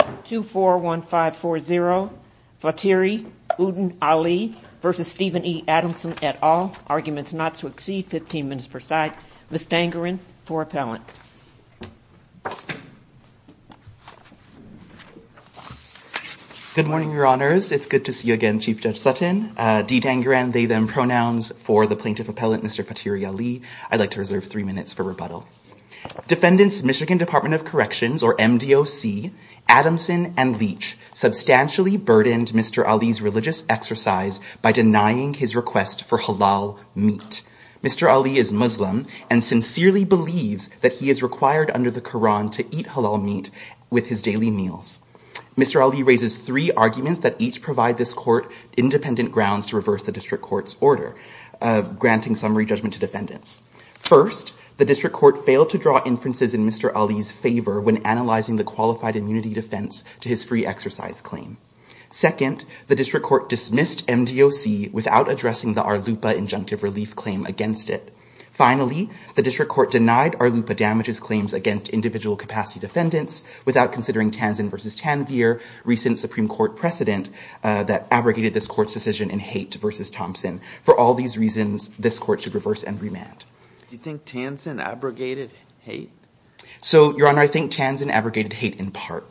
at all. Arguments not to exceed 15 minutes per side. Ms. Dangaran, for appellant. Good morning, Your Honors. It's good to see you again, Chief Judge Sutton. Dee Dangaran, they, them pronouns for the plaintiff appellant, Mr. Fathiree Ali. I'd like to reserve three minutes for rebuttal. Defendants, Michigan Department of Corrections or MDOC, Adamson and Leach substantially burdened Mr. Ali's religious exercise by denying his request for halal meat. Mr. Ali is Muslim and sincerely believes that he is required under the Quran to eat halal meat with his daily meals. Mr. Ali raises three arguments that each provide this court independent grounds to reverse the district court's order, granting summary judgment to defendants. First, the district court failed to draw inferences in Mr. Ali's favor when analyzing the qualified immunity defense to his free exercise claim. Second, the district court dismissed MDOC without addressing the Arlupa injunctive relief claim against it. Finally, the district court denied Arlupa damages claims against individual capacity defendants without considering Tanzan versus Tanvir, recent Supreme Court precedent that abrogated this court's decision in Haight versus Thompson. For all these reasons, this court should reverse and remand. Do you think Tanzan abrogated Haight? So, Your Honor, I think Tanzan abrogated Haight in part.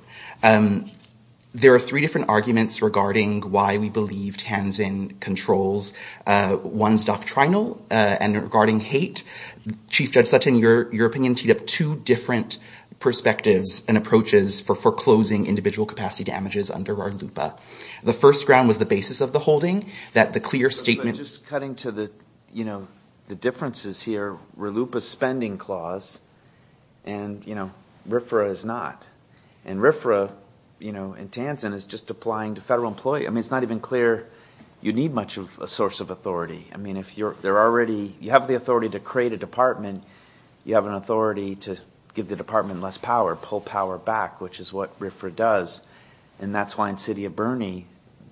There are three different arguments regarding why we believe Tanzan controls. One's doctrinal and regarding Haight. Chief Judge Sutton, your opinion teed up two different perspectives and approaches for foreclosing individual capacity damages under Arlupa. The first ground was the basis of the holding, that the clear statement... Just cutting to the differences here, Arlupa's spending clause and RFRA is not. RFRA in Tanzan is just applying to federal employees. It's not even clear you need much of a source of authority. You have the authority to create a department. You have an authority to give the department less power, pull power back, which is what RFRA does. That's why in the city of Burney,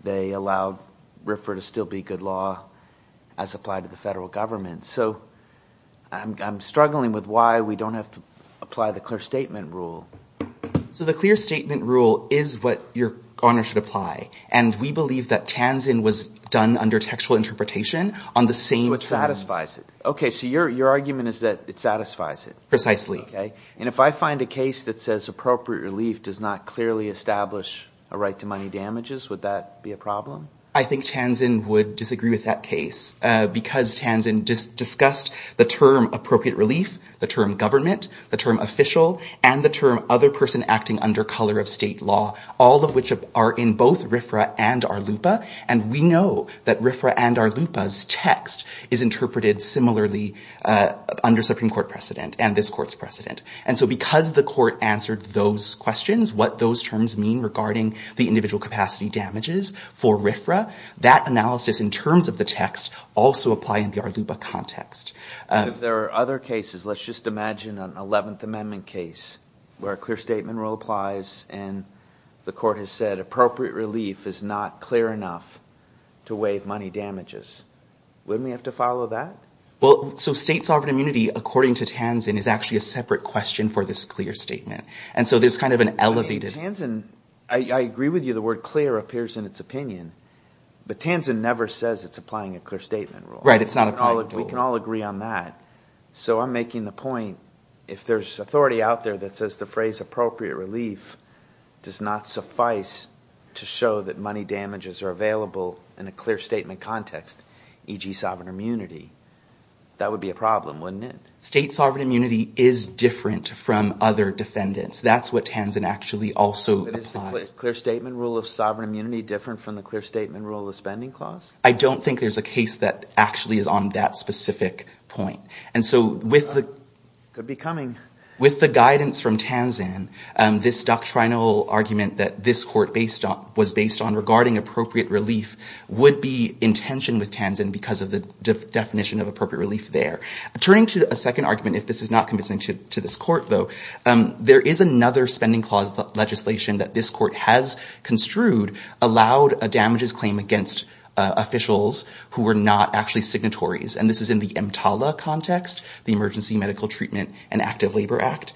they allow RFRA to still be good law as applied to the federal government. So, I'm struggling with why we don't have to apply the clear statement rule. So the clear statement rule is what Your Honor should apply. And we believe that Tanzan was done under textual interpretation on the same terms... So it satisfies it. Okay, so your argument is that it satisfies it. Precisely. And if I find a case that says appropriate relief does not clearly establish a right to money damages, would that be a problem? I think Tanzan would disagree with that case because Tanzan discussed the term appropriate relief, the term government, the term official, and the term other person acting under color of state law, all of which are in both RFRA and Arlupa. And we know that RFRA and Arlupa's text is interpreted similarly under Supreme Court precedent and this court's precedent. And so because the court answered those questions, what those terms mean regarding the individual capacity damages for RFRA, that analysis in terms of the text also apply in the Arlupa context. If there are other cases, let's just imagine an 11th Amendment case where a clear statement rule applies and the court has said appropriate relief is not clear enough to waive money damages. Wouldn't we have to follow that? Well, so state sovereign immunity, according to Tanzan, is actually a separate question for this clear statement. And so there's kind of an elevated... Tanzan, I agree with you, the word clear appears in its opinion. But Tanzan never says it's applying a clear statement rule. Right, it's not applying a rule. We can all agree on that. So I'm making the point, if there's authority out there that says the phrase appropriate relief does not suffice to show that money damages are available in a clear statement context, e.g. sovereign immunity, that would be a problem, wouldn't it? State sovereign immunity is different from other defendants. That's what Tanzan actually also applies. But is the clear statement rule of sovereign immunity different from the clear statement rule of spending clause? I don't think there's a case that actually is on that specific point. And so with the... Could be coming. With the guidance from Tanzan, this doctrinal argument that this court was based on regarding appropriate relief would be in tension with Tanzan because of the definition of appropriate relief there. Turning to a second argument, if this is not convincing to this court, though, there is another spending clause legislation that this court has construed allowed a damages claim against officials who were not actually signatories. And this is in the EMTALA context, the Emergency Medical Treatment and Active Labor Act.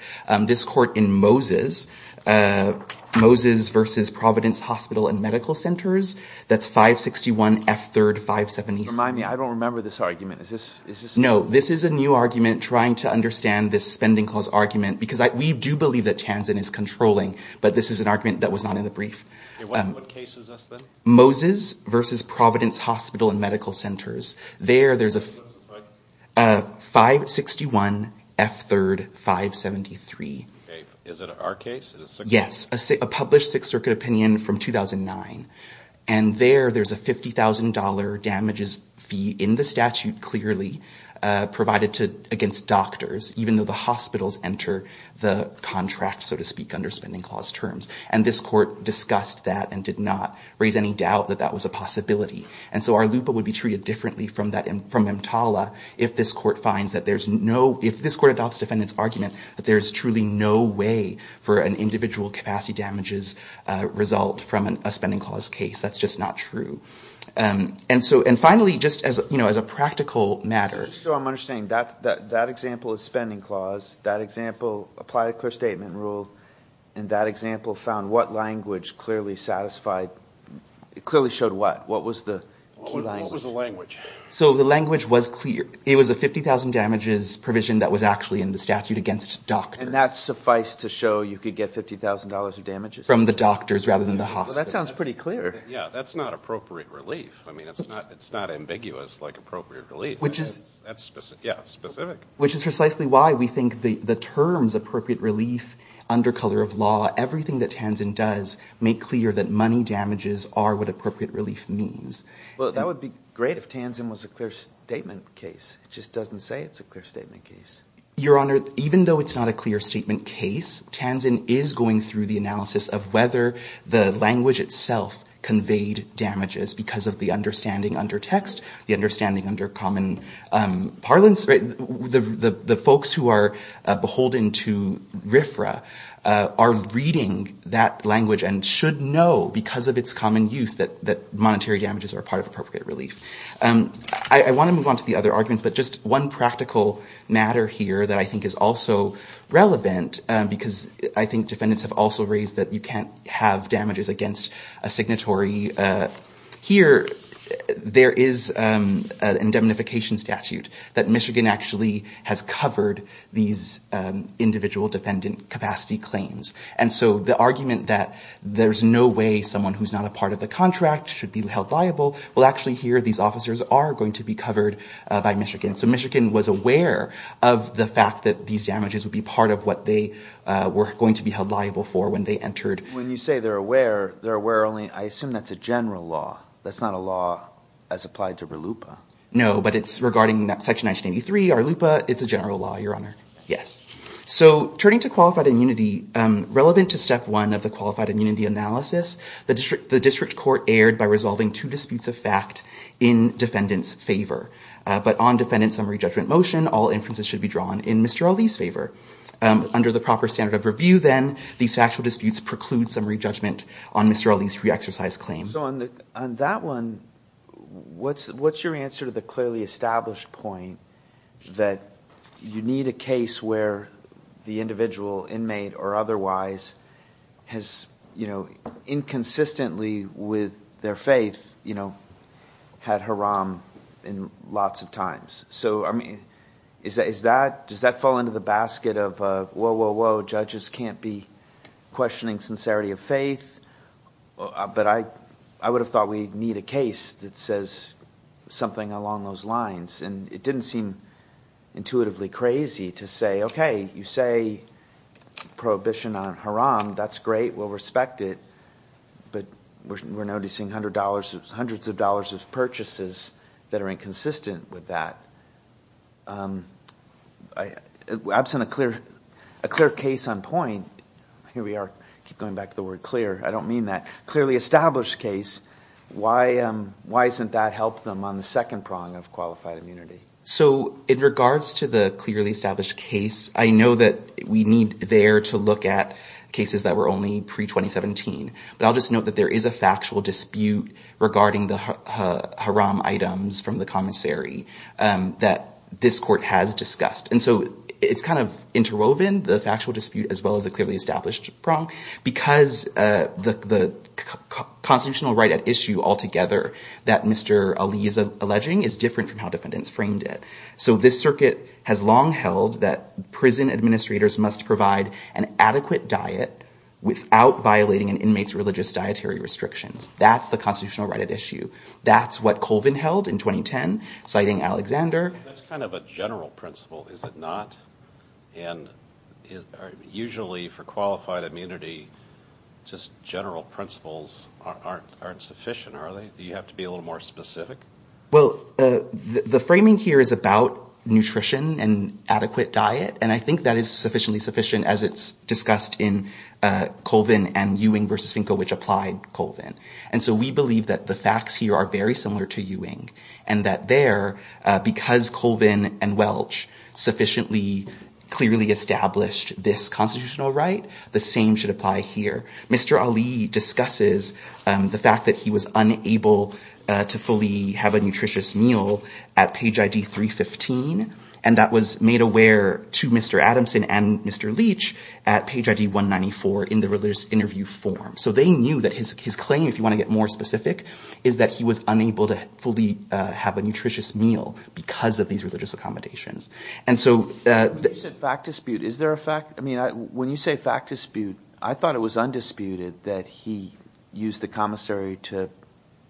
This court in Moses, Moses v. Providence Hospital and Medical Centers, that's 561 F. 3rd, 578. Remind me, I don't remember this argument. Is this... No. This is a new argument trying to understand this spending clause argument because we do believe that Tanzan is controlling, but this is an argument that was not in the brief. What case is this, then? Moses v. Providence Hospital and Medical Centers. There, there's a 561 F. 3rd, 578. Is it our case? Yes. A published Sixth Circuit opinion from 2009. And there, there's a $50,000 damages fee in the statute, clearly, provided against doctors, even though the hospitals enter the contract, so to speak, under spending clause terms. And this court discussed that and did not raise any doubt that that was a possibility. And so our LUPA would be treated differently from EMTALA if this court finds that there's no, if this court adopts defendant's argument that there's truly no way for an individual capacity damages result from a spending clause case. That's just not true. And so, and finally, just as, you know, as a practical matter... Just so I'm understanding, that, that, that example is spending clause. That example, apply a clear statement rule. And that example found what language clearly satisfied, clearly showed what? What was the key language? What was the language? So the language was clear. It was a $50,000 damages provision that was actually in the statute against doctors. And that's suffice to show you could get $50,000 of damages? From the doctors rather than the hospitals. That sounds pretty clear. Yeah. That's not appropriate relief. I mean, it's not, it's not ambiguous like appropriate relief. Which is... That's specific. Yeah, specific. Which is precisely why we think the, the terms appropriate relief, under color of law, everything that Tanzin does make clear that money damages are what appropriate relief means. Well, that would be great if Tanzin was a clear statement case. It just doesn't say it's a clear statement case. Your Honor, even though it's not a clear statement case, Tanzin is going through the analysis of whether the language itself conveyed damages because of the understanding under text, the understanding under common parlance, right? The, the, the folks who are beholden to RFRA are reading that language and should know because of its common use that, that monetary damages are part of appropriate relief. I want to move on to the other arguments, but just one practical matter here that I think is also relevant because I think defendants have also raised that you can't have damages against a signatory. Here, there is indemnification statute that Michigan actually has covered these individual defendant capacity claims. And so the argument that there's no way someone who's not a part of the contract should be held liable will actually hear these claims officers are going to be covered by Michigan. So Michigan was aware of the fact that these damages would be part of what they were going to be held liable for when they entered. When you say they're aware, they're aware only, I assume that's a general law. That's not a law as applied to RLUIPA. No, but it's regarding that section 1983 RLUIPA, it's a general law, Your Honor. Yes. So turning to qualified immunity, relevant to step one of the qualified immunity analysis, the district, district court erred by resolving two disputes of fact in defendant's favor. But on defendant summary judgment motion, all inferences should be drawn in Mr. Ali's favor. Under the proper standard of review then, these factual disputes preclude summary judgment on Mr. Ali's pre-exercise claim. So on that one, what's your answer to the clearly established point that you need a with their faith, you know, had Haram in lots of times. So, I mean, is that, is that, does that fall into the basket of a, whoa, whoa, whoa, judges can't be questioning sincerity of faith. But I, I would have thought we need a case that says something along those lines and it didn't seem intuitively crazy to say, okay, you say prohibition on Haram, that's great, we'll respect it, but we're noticing hundreds of dollars of purchases that are inconsistent with that. Absent a clear, a clear case on point, here we are, keep going back to the word clear, I don't mean that, clearly established case, why, why isn't that help them on the second prong of qualified immunity? So in regards to the clearly established case, I know that we need there to look at cases that were only pre-2017, but I'll just note that there is a factual dispute regarding the Haram items from the commissary that this court has discussed. And so it's kind of interwoven, the factual dispute as well as the clearly established prong, because the constitutional right at issue altogether that Mr. Ali is alleging is different from how defendants framed it. So this circuit has long held that prison administrators must provide an adequate diet without violating an inmate's religious dietary restrictions. That's the constitutional right at issue. That's what Colvin held in 2010, citing Alexander. That's kind of a general principle, is it not? And usually for qualified immunity, just general principles aren't sufficient, are they? Do you have to be a little more specific? Well, the framing here is about nutrition and adequate diet. And I think that is sufficiently sufficient as it's discussed in Colvin and Ewing v. Finkel, which applied Colvin. And so we believe that the facts here are very similar to Ewing and that there, because Colvin and Welch sufficiently clearly established this constitutional right, the same should apply here. Mr. Ali discusses the fact that he was unable to fully have a nutritious meal at page ID 315, and that was made aware to Mr. Adamson and Mr. Leach at page ID 194 in the religious interview form. So they knew that his claim, if you want to get more specific, is that he was unable to fully have a nutritious meal because of these religious accommodations. When you say fact dispute, I thought it was undisputed that he used the commissary to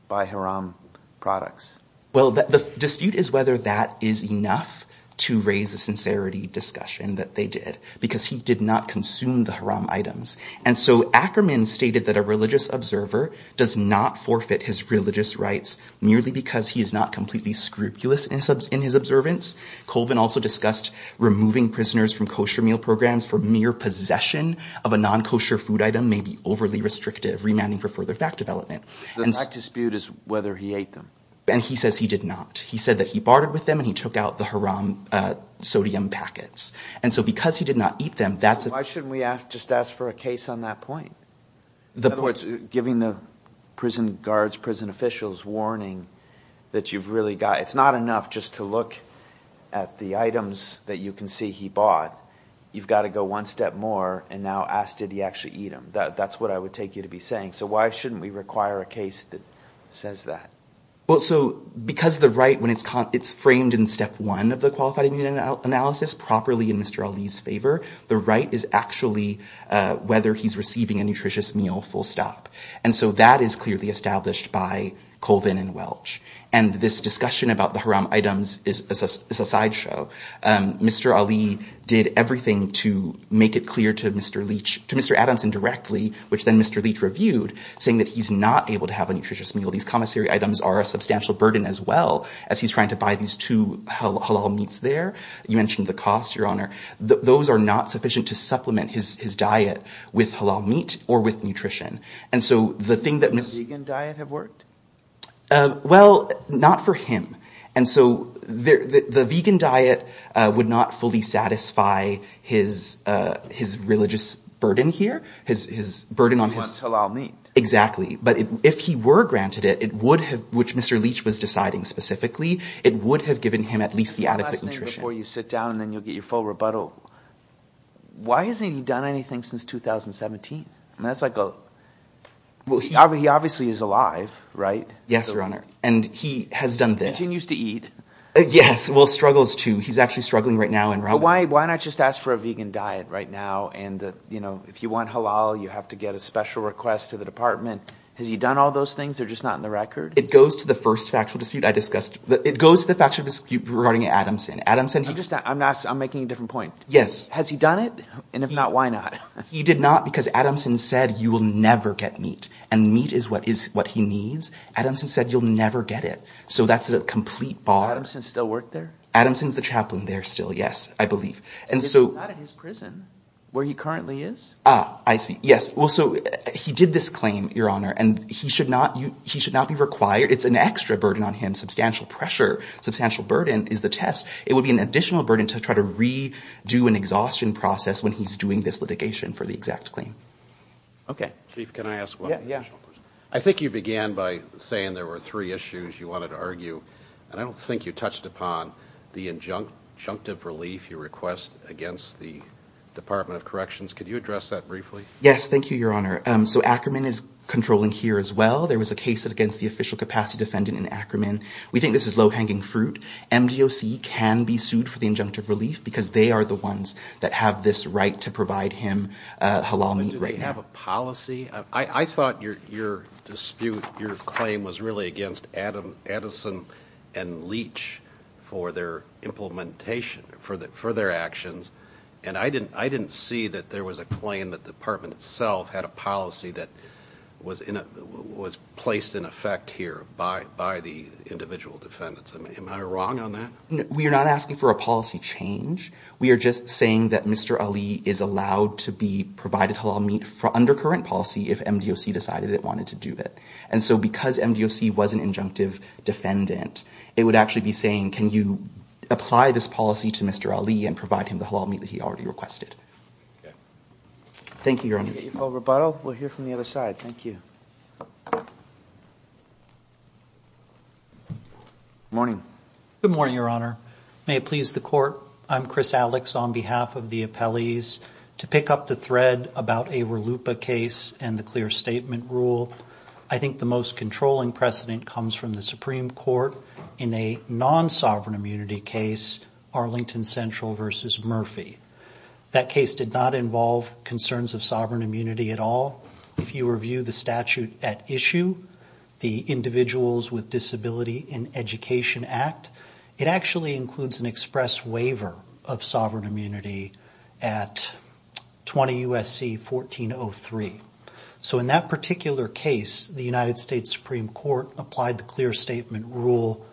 buy Haram products. Well the dispute is whether that is enough to raise the sincerity discussion that they did because he did not consume the Haram items. And so Ackerman stated that a religious observer does not forfeit his religious rights merely because he is not completely scrupulous in his observance. Colvin also discussed removing prisoners from kosher meal programs for mere possession of a non-kosher food item may be overly restrictive, remanding for further fact development. The fact dispute is whether he ate them. And he says he did not. He said that he bartered with them and he took out the Haram sodium packets. And so because he did not eat them, that's a... Why shouldn't we just ask for a case on that point? In other words, giving the prison guards, prison officials warning that you've really got... It's not enough just to look at the items that you can see he bought. You've got to go one step more and now ask, did he actually eat them? That's what I would take you to be saying. So why shouldn't we require a case that says that? Well, so because the right, when it's framed in step one of the qualified immune analysis properly in Mr. Ali's favor, the right is actually whether he's receiving a nutritious meal full stop. And so that is clearly established by Colvin and Welch. And this discussion about the Haram items is a sideshow. Mr. Ali did everything to make it clear to Mr. Leach, to Mr. Adamson directly, which then Mr. Leach reviewed, saying that he's not able to have a nutritious meal. These commissary items are a substantial burden as well as he's trying to buy these two halal meats there. You mentioned the cost, Your Honor. Those are not sufficient to supplement his diet with halal meat or with nutrition. And so the thing that Ms. Does the vegan diet have worked? Well, not for him. And so the vegan diet would not fully satisfy his religious burden here, his burden on his. It's one halal meat. Exactly. But if he were granted it, it would have, which Mr. Leach was deciding specifically, it would have given him at least the adequate nutrition. One last thing before you sit down and then you'll get your full rebuttal. Why hasn't he done anything since 2017? And that's like, well, he obviously is alive, right? Yes, Your Honor. And he has done this. Continues to eat. Yes. Well, struggles too. He's actually struggling right now. And why, why not just ask for a vegan diet right now? And, you know, if you want halal, you have to get a special request to the department. Has he done all those things or just not in the record? It goes to the first factual dispute I discussed. It goes to the factual dispute regarding Adamson. Adamson. I'm just, I'm asking, I'm making a different point. Yes. Has he done it? And if not, why not? He did not because Adamson said, you will never get meat and meat is what is what he needs. Adamson said, you'll never get it. So that's a complete bar. Adamson still work there? Adamson's the chaplain there still. Yes, I believe. And so not in his prison where he currently is. Ah, I see. Yes. Well, so he did this claim, Your Honor, and he should not, he should not be required. It's an extra burden on him. Substantial pressure. Substantial burden is the test. It would be an additional burden to try to re do an exhaustion process when he's doing this litigation for the exact claim. Okay. Chief, can I ask? Well, yeah, I think you began by saying there were three issues you wanted to argue, and I don't think you touched upon the injunctive relief you request against the Department of Corrections. Could you address that briefly? Yes. Thank you, Your Honor. Um, so Ackerman is controlling here as well. There was a case against the official capacity defendant in Ackerman. We think this is low hanging fruit. MDOC can be sued for the injunctive relief because they are the ones that have this right to provide him, uh, halal meat right now. Do they have a policy? I thought your dispute, your claim was really against Addison and Leach for their implementation, for their actions. And I didn't, I didn't see that there was a claim that the department itself had a policy that was placed in effect here by the individual defendants. Am I wrong on that? We are not asking for a policy change. We are just saying that Mr. Ali is allowed to be provided halal meat for undercurrent policy if MDOC decided it wanted to do it. And so because MDOC was an injunctive defendant, it would actually be saying, can you apply this policy to Mr. Ali and provide him the halal meat that he already requested? Thank you, Your Honor. Okay. Full rebuttal. We'll hear from the other side. Thank you. Good morning, Your Honor, may it please the court. I'm Chris Alex on behalf of the appellees to pick up the thread about a RLUIPA case and the clear statement rule. I think the most controlling precedent comes from the Supreme Court in a non-sovereign immunity case, Arlington Central versus Murphy. That case did not involve concerns of sovereign immunity at all. If you review the statute at issue, the Individuals with Disability in Education Act, it actually includes an express waiver of sovereign immunity at 20 U.S.C. 1403. So in that particular case, the United States Supreme Court applied the clear statement rule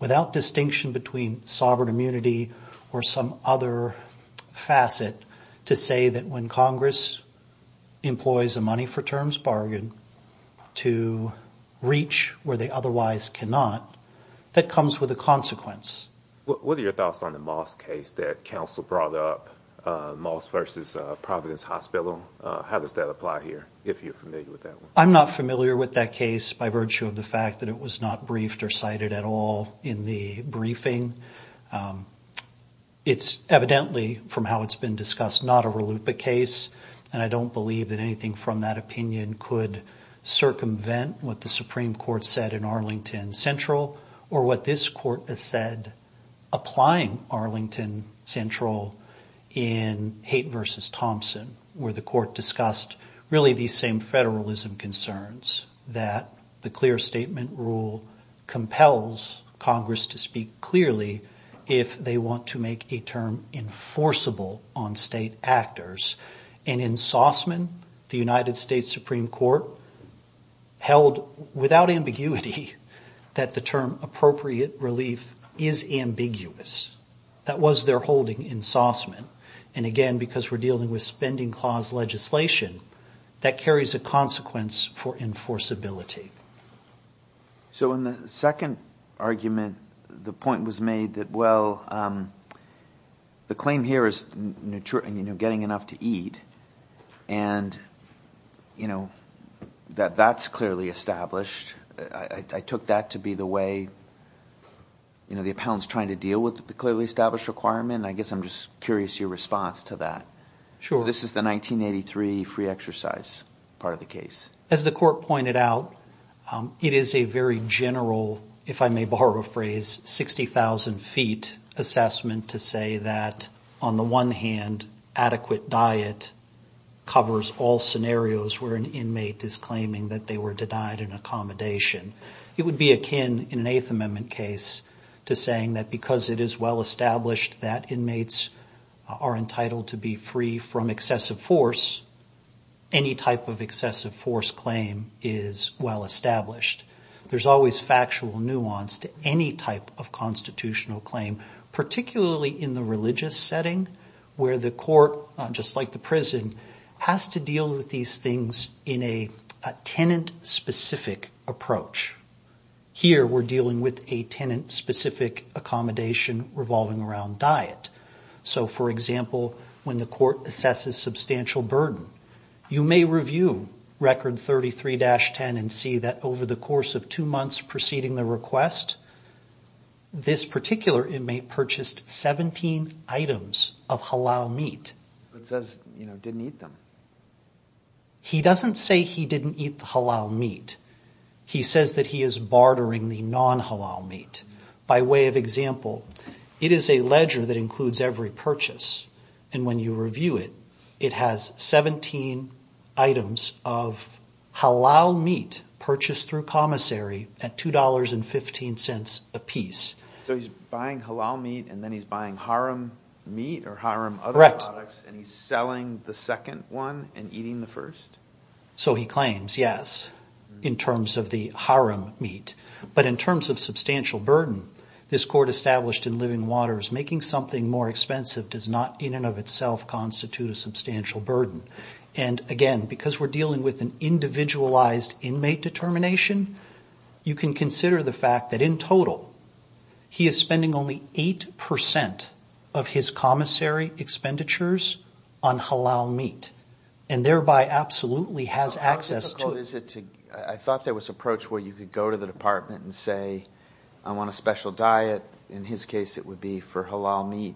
without distinction between sovereign immunity or some other facet to say that when Congress employs a money for terms bargain to reach where they otherwise cannot, that comes with a consequence. What are your thoughts on the Moss case that counsel brought up, Moss versus Providence Hospital? How does that apply here, if you're familiar with that? I'm not familiar with that case by virtue of the fact that it was not briefed or cited at all in the briefing. It's evidently, from how it's been discussed, not a RLUIPA case, and I don't believe that anything from that opinion could circumvent what the Supreme Court said in Arlington Central or what this court has said applying Arlington Central in Haight versus Thompson where the court discussed really these same federalism concerns, that the clear statement rule compels Congress to speak clearly about sovereign immunity. It doesn't compel Congress to speak clearly if they want to make a term enforceable on state actors, and in Saussman, the United States Supreme Court held without ambiguity that the term appropriate relief is ambiguous. That was their holding in Saussman, and again, because we're dealing with spending clause legislation, that carries a consequence for enforceability. In the second argument, the point was made that, well, the claim here is getting enough to eat, and that that's clearly established. I took that to be the way the appellant's trying to deal with the clearly established requirement. I guess I'm just curious your response to that. Sure. This is the 1983 free exercise part of the case. As the court pointed out, it is a very general, if I may borrow a phrase, 60,000 feet assessment to say that, on the one hand, adequate diet covers all scenarios where an inmate is claiming that they were denied an accommodation. It would be akin, in an Eighth Amendment case, to saying that because it is well established that inmates are entitled to be free from excessive force, any type of excessive force claim is well established. There's always factual nuance to any type of constitutional claim, particularly in the religious setting, where the court, just like the prison, has to deal with these things in a tenant-specific approach. Here, we're dealing with a tenant-specific accommodation revolving around diet. For example, when the court assesses substantial burden, you may review Record 33-10 and see that, over the course of two months preceding the request, this particular inmate purchased 17 items of halal meat. It says he didn't eat them. He doesn't say he didn't eat the halal meat. He says that he is bartering the non-halal meat. By way of example, it is a ledger that includes every purchase. And when you review it, it has 17 items of halal meat purchased through commissary at $2.15 a piece. So he's buying halal meat, and then he's buying haram meat or haram other products, and he's selling the second one and eating the first? So he claims, yes, in terms of the haram meat. But in terms of substantial burden, this court established in Living Waters, making something more expensive does not in and of itself constitute a substantial burden. And again, because we're dealing with an individualized inmate determination, you can consider the fact that, in total, he is spending only 8% of his commissary expenditures on halal meat, and thereby absolutely has access to it. I thought there was an approach where you could go to the department and say, I want a special diet. In his case, it would be for halal meat.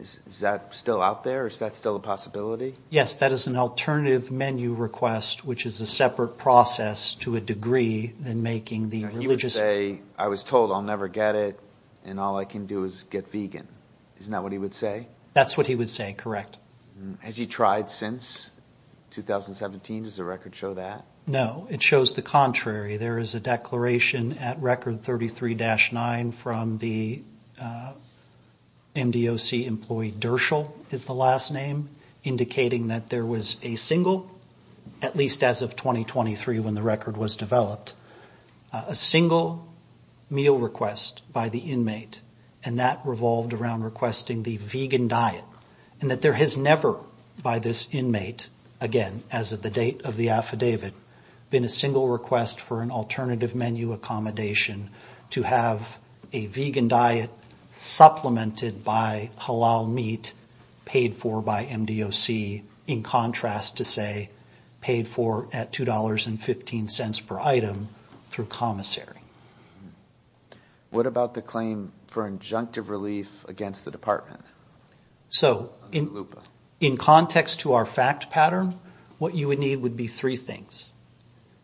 Is that still out there? Is that still a possibility? Yes, that is an alternative menu request, which is a separate process to a degree than making the religious... He would say, I was told I'll never get it, and all I can do is get vegan. Isn't that what he would say? That's what he would say, correct. Has he tried since 2017? Does the record show that? No, it shows the contrary. There is a declaration at record 33-9 from the MDOC employee Dershal is the last name, indicating that there was a single, at least as of 2023 when the record was developed, a single meal request by the inmate. And that revolved around requesting the vegan diet, and that there has never, by this inmate, again, as of the date of the affidavit, been a single request for an alternative menu accommodation to have a vegan diet supplemented by halal meat paid for by MDOC, in contrast to, say, paid for at $2.15 per item through commissary. What about the claim for injunctive relief against the department? So, in context to our fact pattern, what you would need would be three things.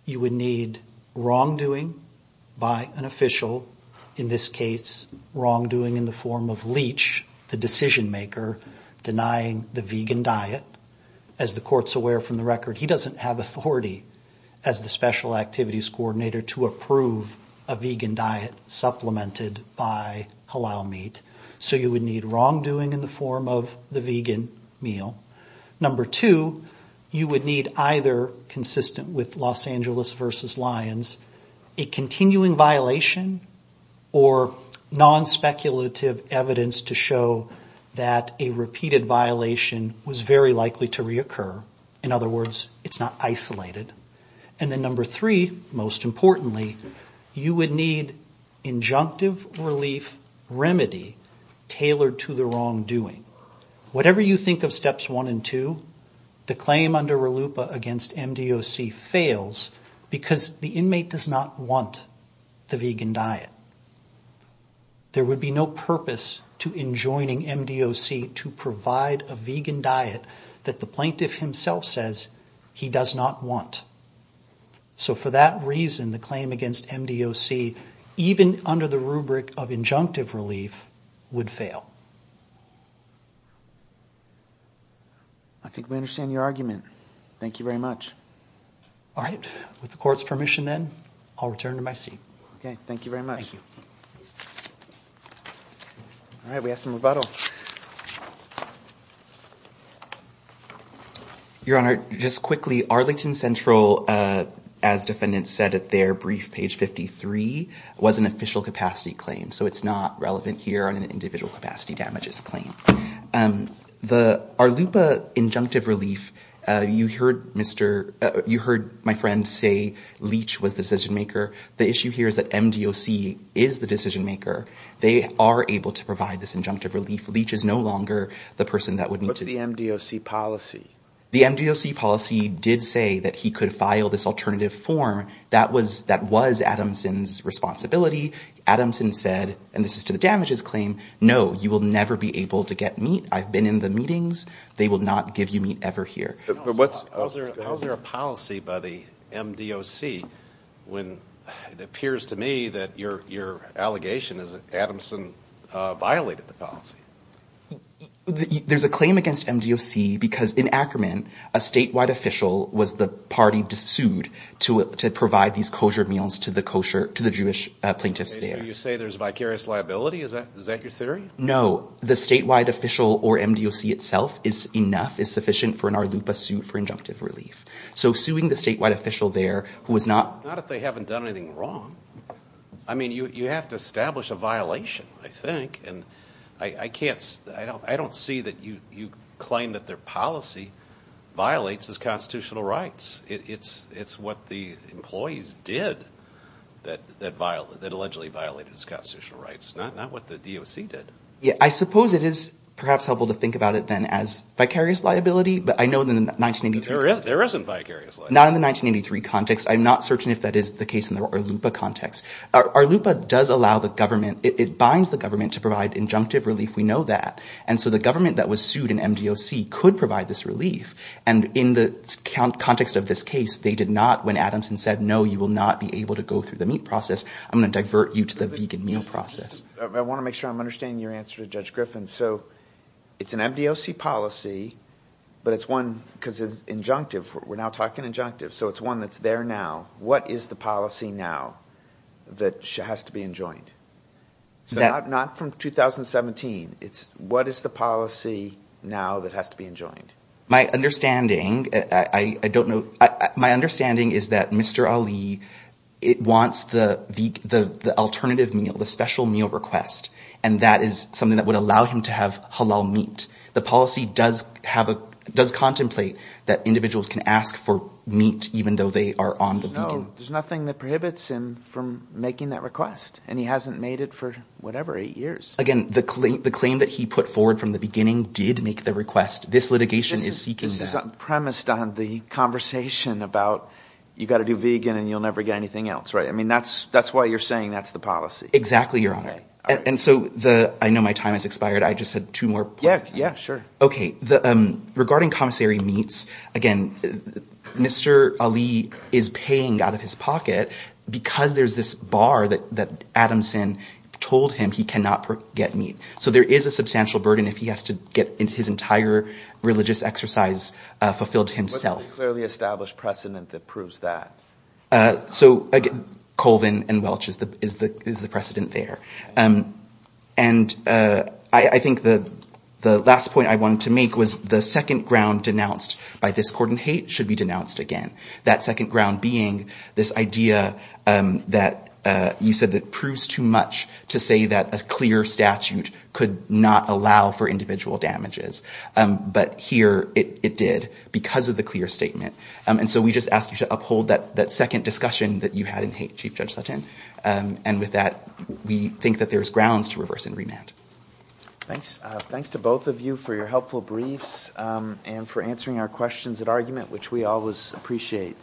You would need wrongdoing by an official, in this case, wrongdoing in the form of Leach, the decision maker, denying the vegan diet. As the court's aware from the record, he doesn't have authority as the special activities coordinator to approve a vegan diet supplemented by halal meat. So you would need wrongdoing in the form of the vegan meal. Number two, you would need either, consistent with Los Angeles versus Lyons, a continuing violation or non-speculative evidence to show that a repeated violation was very likely to reoccur. In other words, it's not isolated. And then number three, most importantly, you would need injunctive relief remedy tailored to the wrongdoing. Whatever you think of steps one and two, the claim under RLUIPA against MDOC fails because the inmate does not want the vegan diet. There would be no purpose to enjoining MDOC to provide a vegan diet that the plaintiff himself says he does not want. So for that reason, the claim against MDOC, even under the rubric of injunctive relief, would fail. I think we understand your argument. Thank you very much. All right. With the court's permission then, I'll return to my seat. Okay. Thank you very much. All right. We have some rebuttal. Your Honor, just quickly, Arlington Central, as defendants said at their brief, page 53, was an official capacity claim. So it's not relevant here on an individual capacity damages claim. The RLUIPA injunctive relief, you heard my friend say Leach was the decision maker. The issue here is that MDOC is the decision maker. They are able to provide this injunctive relief. Leach is no longer the person that would need to... What's the MDOC policy? The MDOC policy did say that he could file this alternative form. That was Adamson's responsibility. Adamson said, and this is to the damages claim, no, you will never be able to get meat. I've been in the meetings. They will not give you meat ever here. How is there a policy by the MDOC when it appears to me that your allegation is that Adamson violated the policy? There's a claim against MDOC because in Ackermann, a statewide official was the party to sue to prove that he violated the policy. He was the party to provide these kosher meals to the kosher, to the Jewish plaintiffs there. So you say there's vicarious liability? Is that your theory? No. The statewide official or MDOC itself is enough, is sufficient for an RLUIPA suit for injunctive relief. So suing the statewide official there who was not... Not if they haven't done anything wrong. I mean, you have to establish a violation, I think. I don't see that you claim that their policy violates his constitutional rights. It's what the employees did that allegedly violated his constitutional rights, not what the DOC did. Yeah, I suppose it is perhaps helpful to think about it then as vicarious liability, but I know in the 1983... There isn't vicarious liability. Not in the 1983 context. I'm not certain if that is the case in the RLUIPA context. RLUIPA does allow the government, it binds the government to provide injunctive relief, we know that. And so the government that was sued in MDOC could provide this relief. And in the context of this case, they did not, when Adamson said, no, you will not be able to go through the meat process, I'm going to divert you to the vegan meal process. I want to make sure I'm understanding your answer to Judge Griffin. So it's an MDOC policy, but it's one... Because it's injunctive, we're now talking injunctive. So it's one that's there now. What is the policy now that has to be enjoined? Not from 2017. What is the policy now that has to be enjoined? My understanding, I don't know... My understanding is that Mr. Ali wants the alternative meal, the special meal request. And that is something that would allow him to have halal meat. The policy does contemplate that individuals can ask for meat, even though they are on the vegan... There's nothing that prohibits him from making that request. And he hasn't made it for, whatever, eight years. Again, the claim that he put forward from the beginning did make the request. This litigation is seeking that. This is premised on the conversation about, you've got to do vegan and you'll never get anything else. That's why you're saying that's the policy. Exactly, Your Honor. I know my time has expired, I just had two more points. Regarding commissary meats, again, Mr. Ali is paying out of his pocket because there's this bar that Adamson told him he cannot get meat. So there is a substantial burden if he has to get his entire religious exercise fulfilled himself. What's the clearly established precedent that proves that? Colvin and Welch is the precedent there. I think the last point I wanted to make was the second ground denounced by this court in hate should be denounced again. That second ground being this idea that you said that proves too much to say that a clear statute could not allow for individual damages. But here it did because of the clear statement. And so we just ask you to uphold that second discussion that you had in hate, Chief Judge Sutton. And with that, we think that there's grounds to reverse and remand. Thanks to both of you for your helpful briefs and for answering our questions at argument which we always appreciate.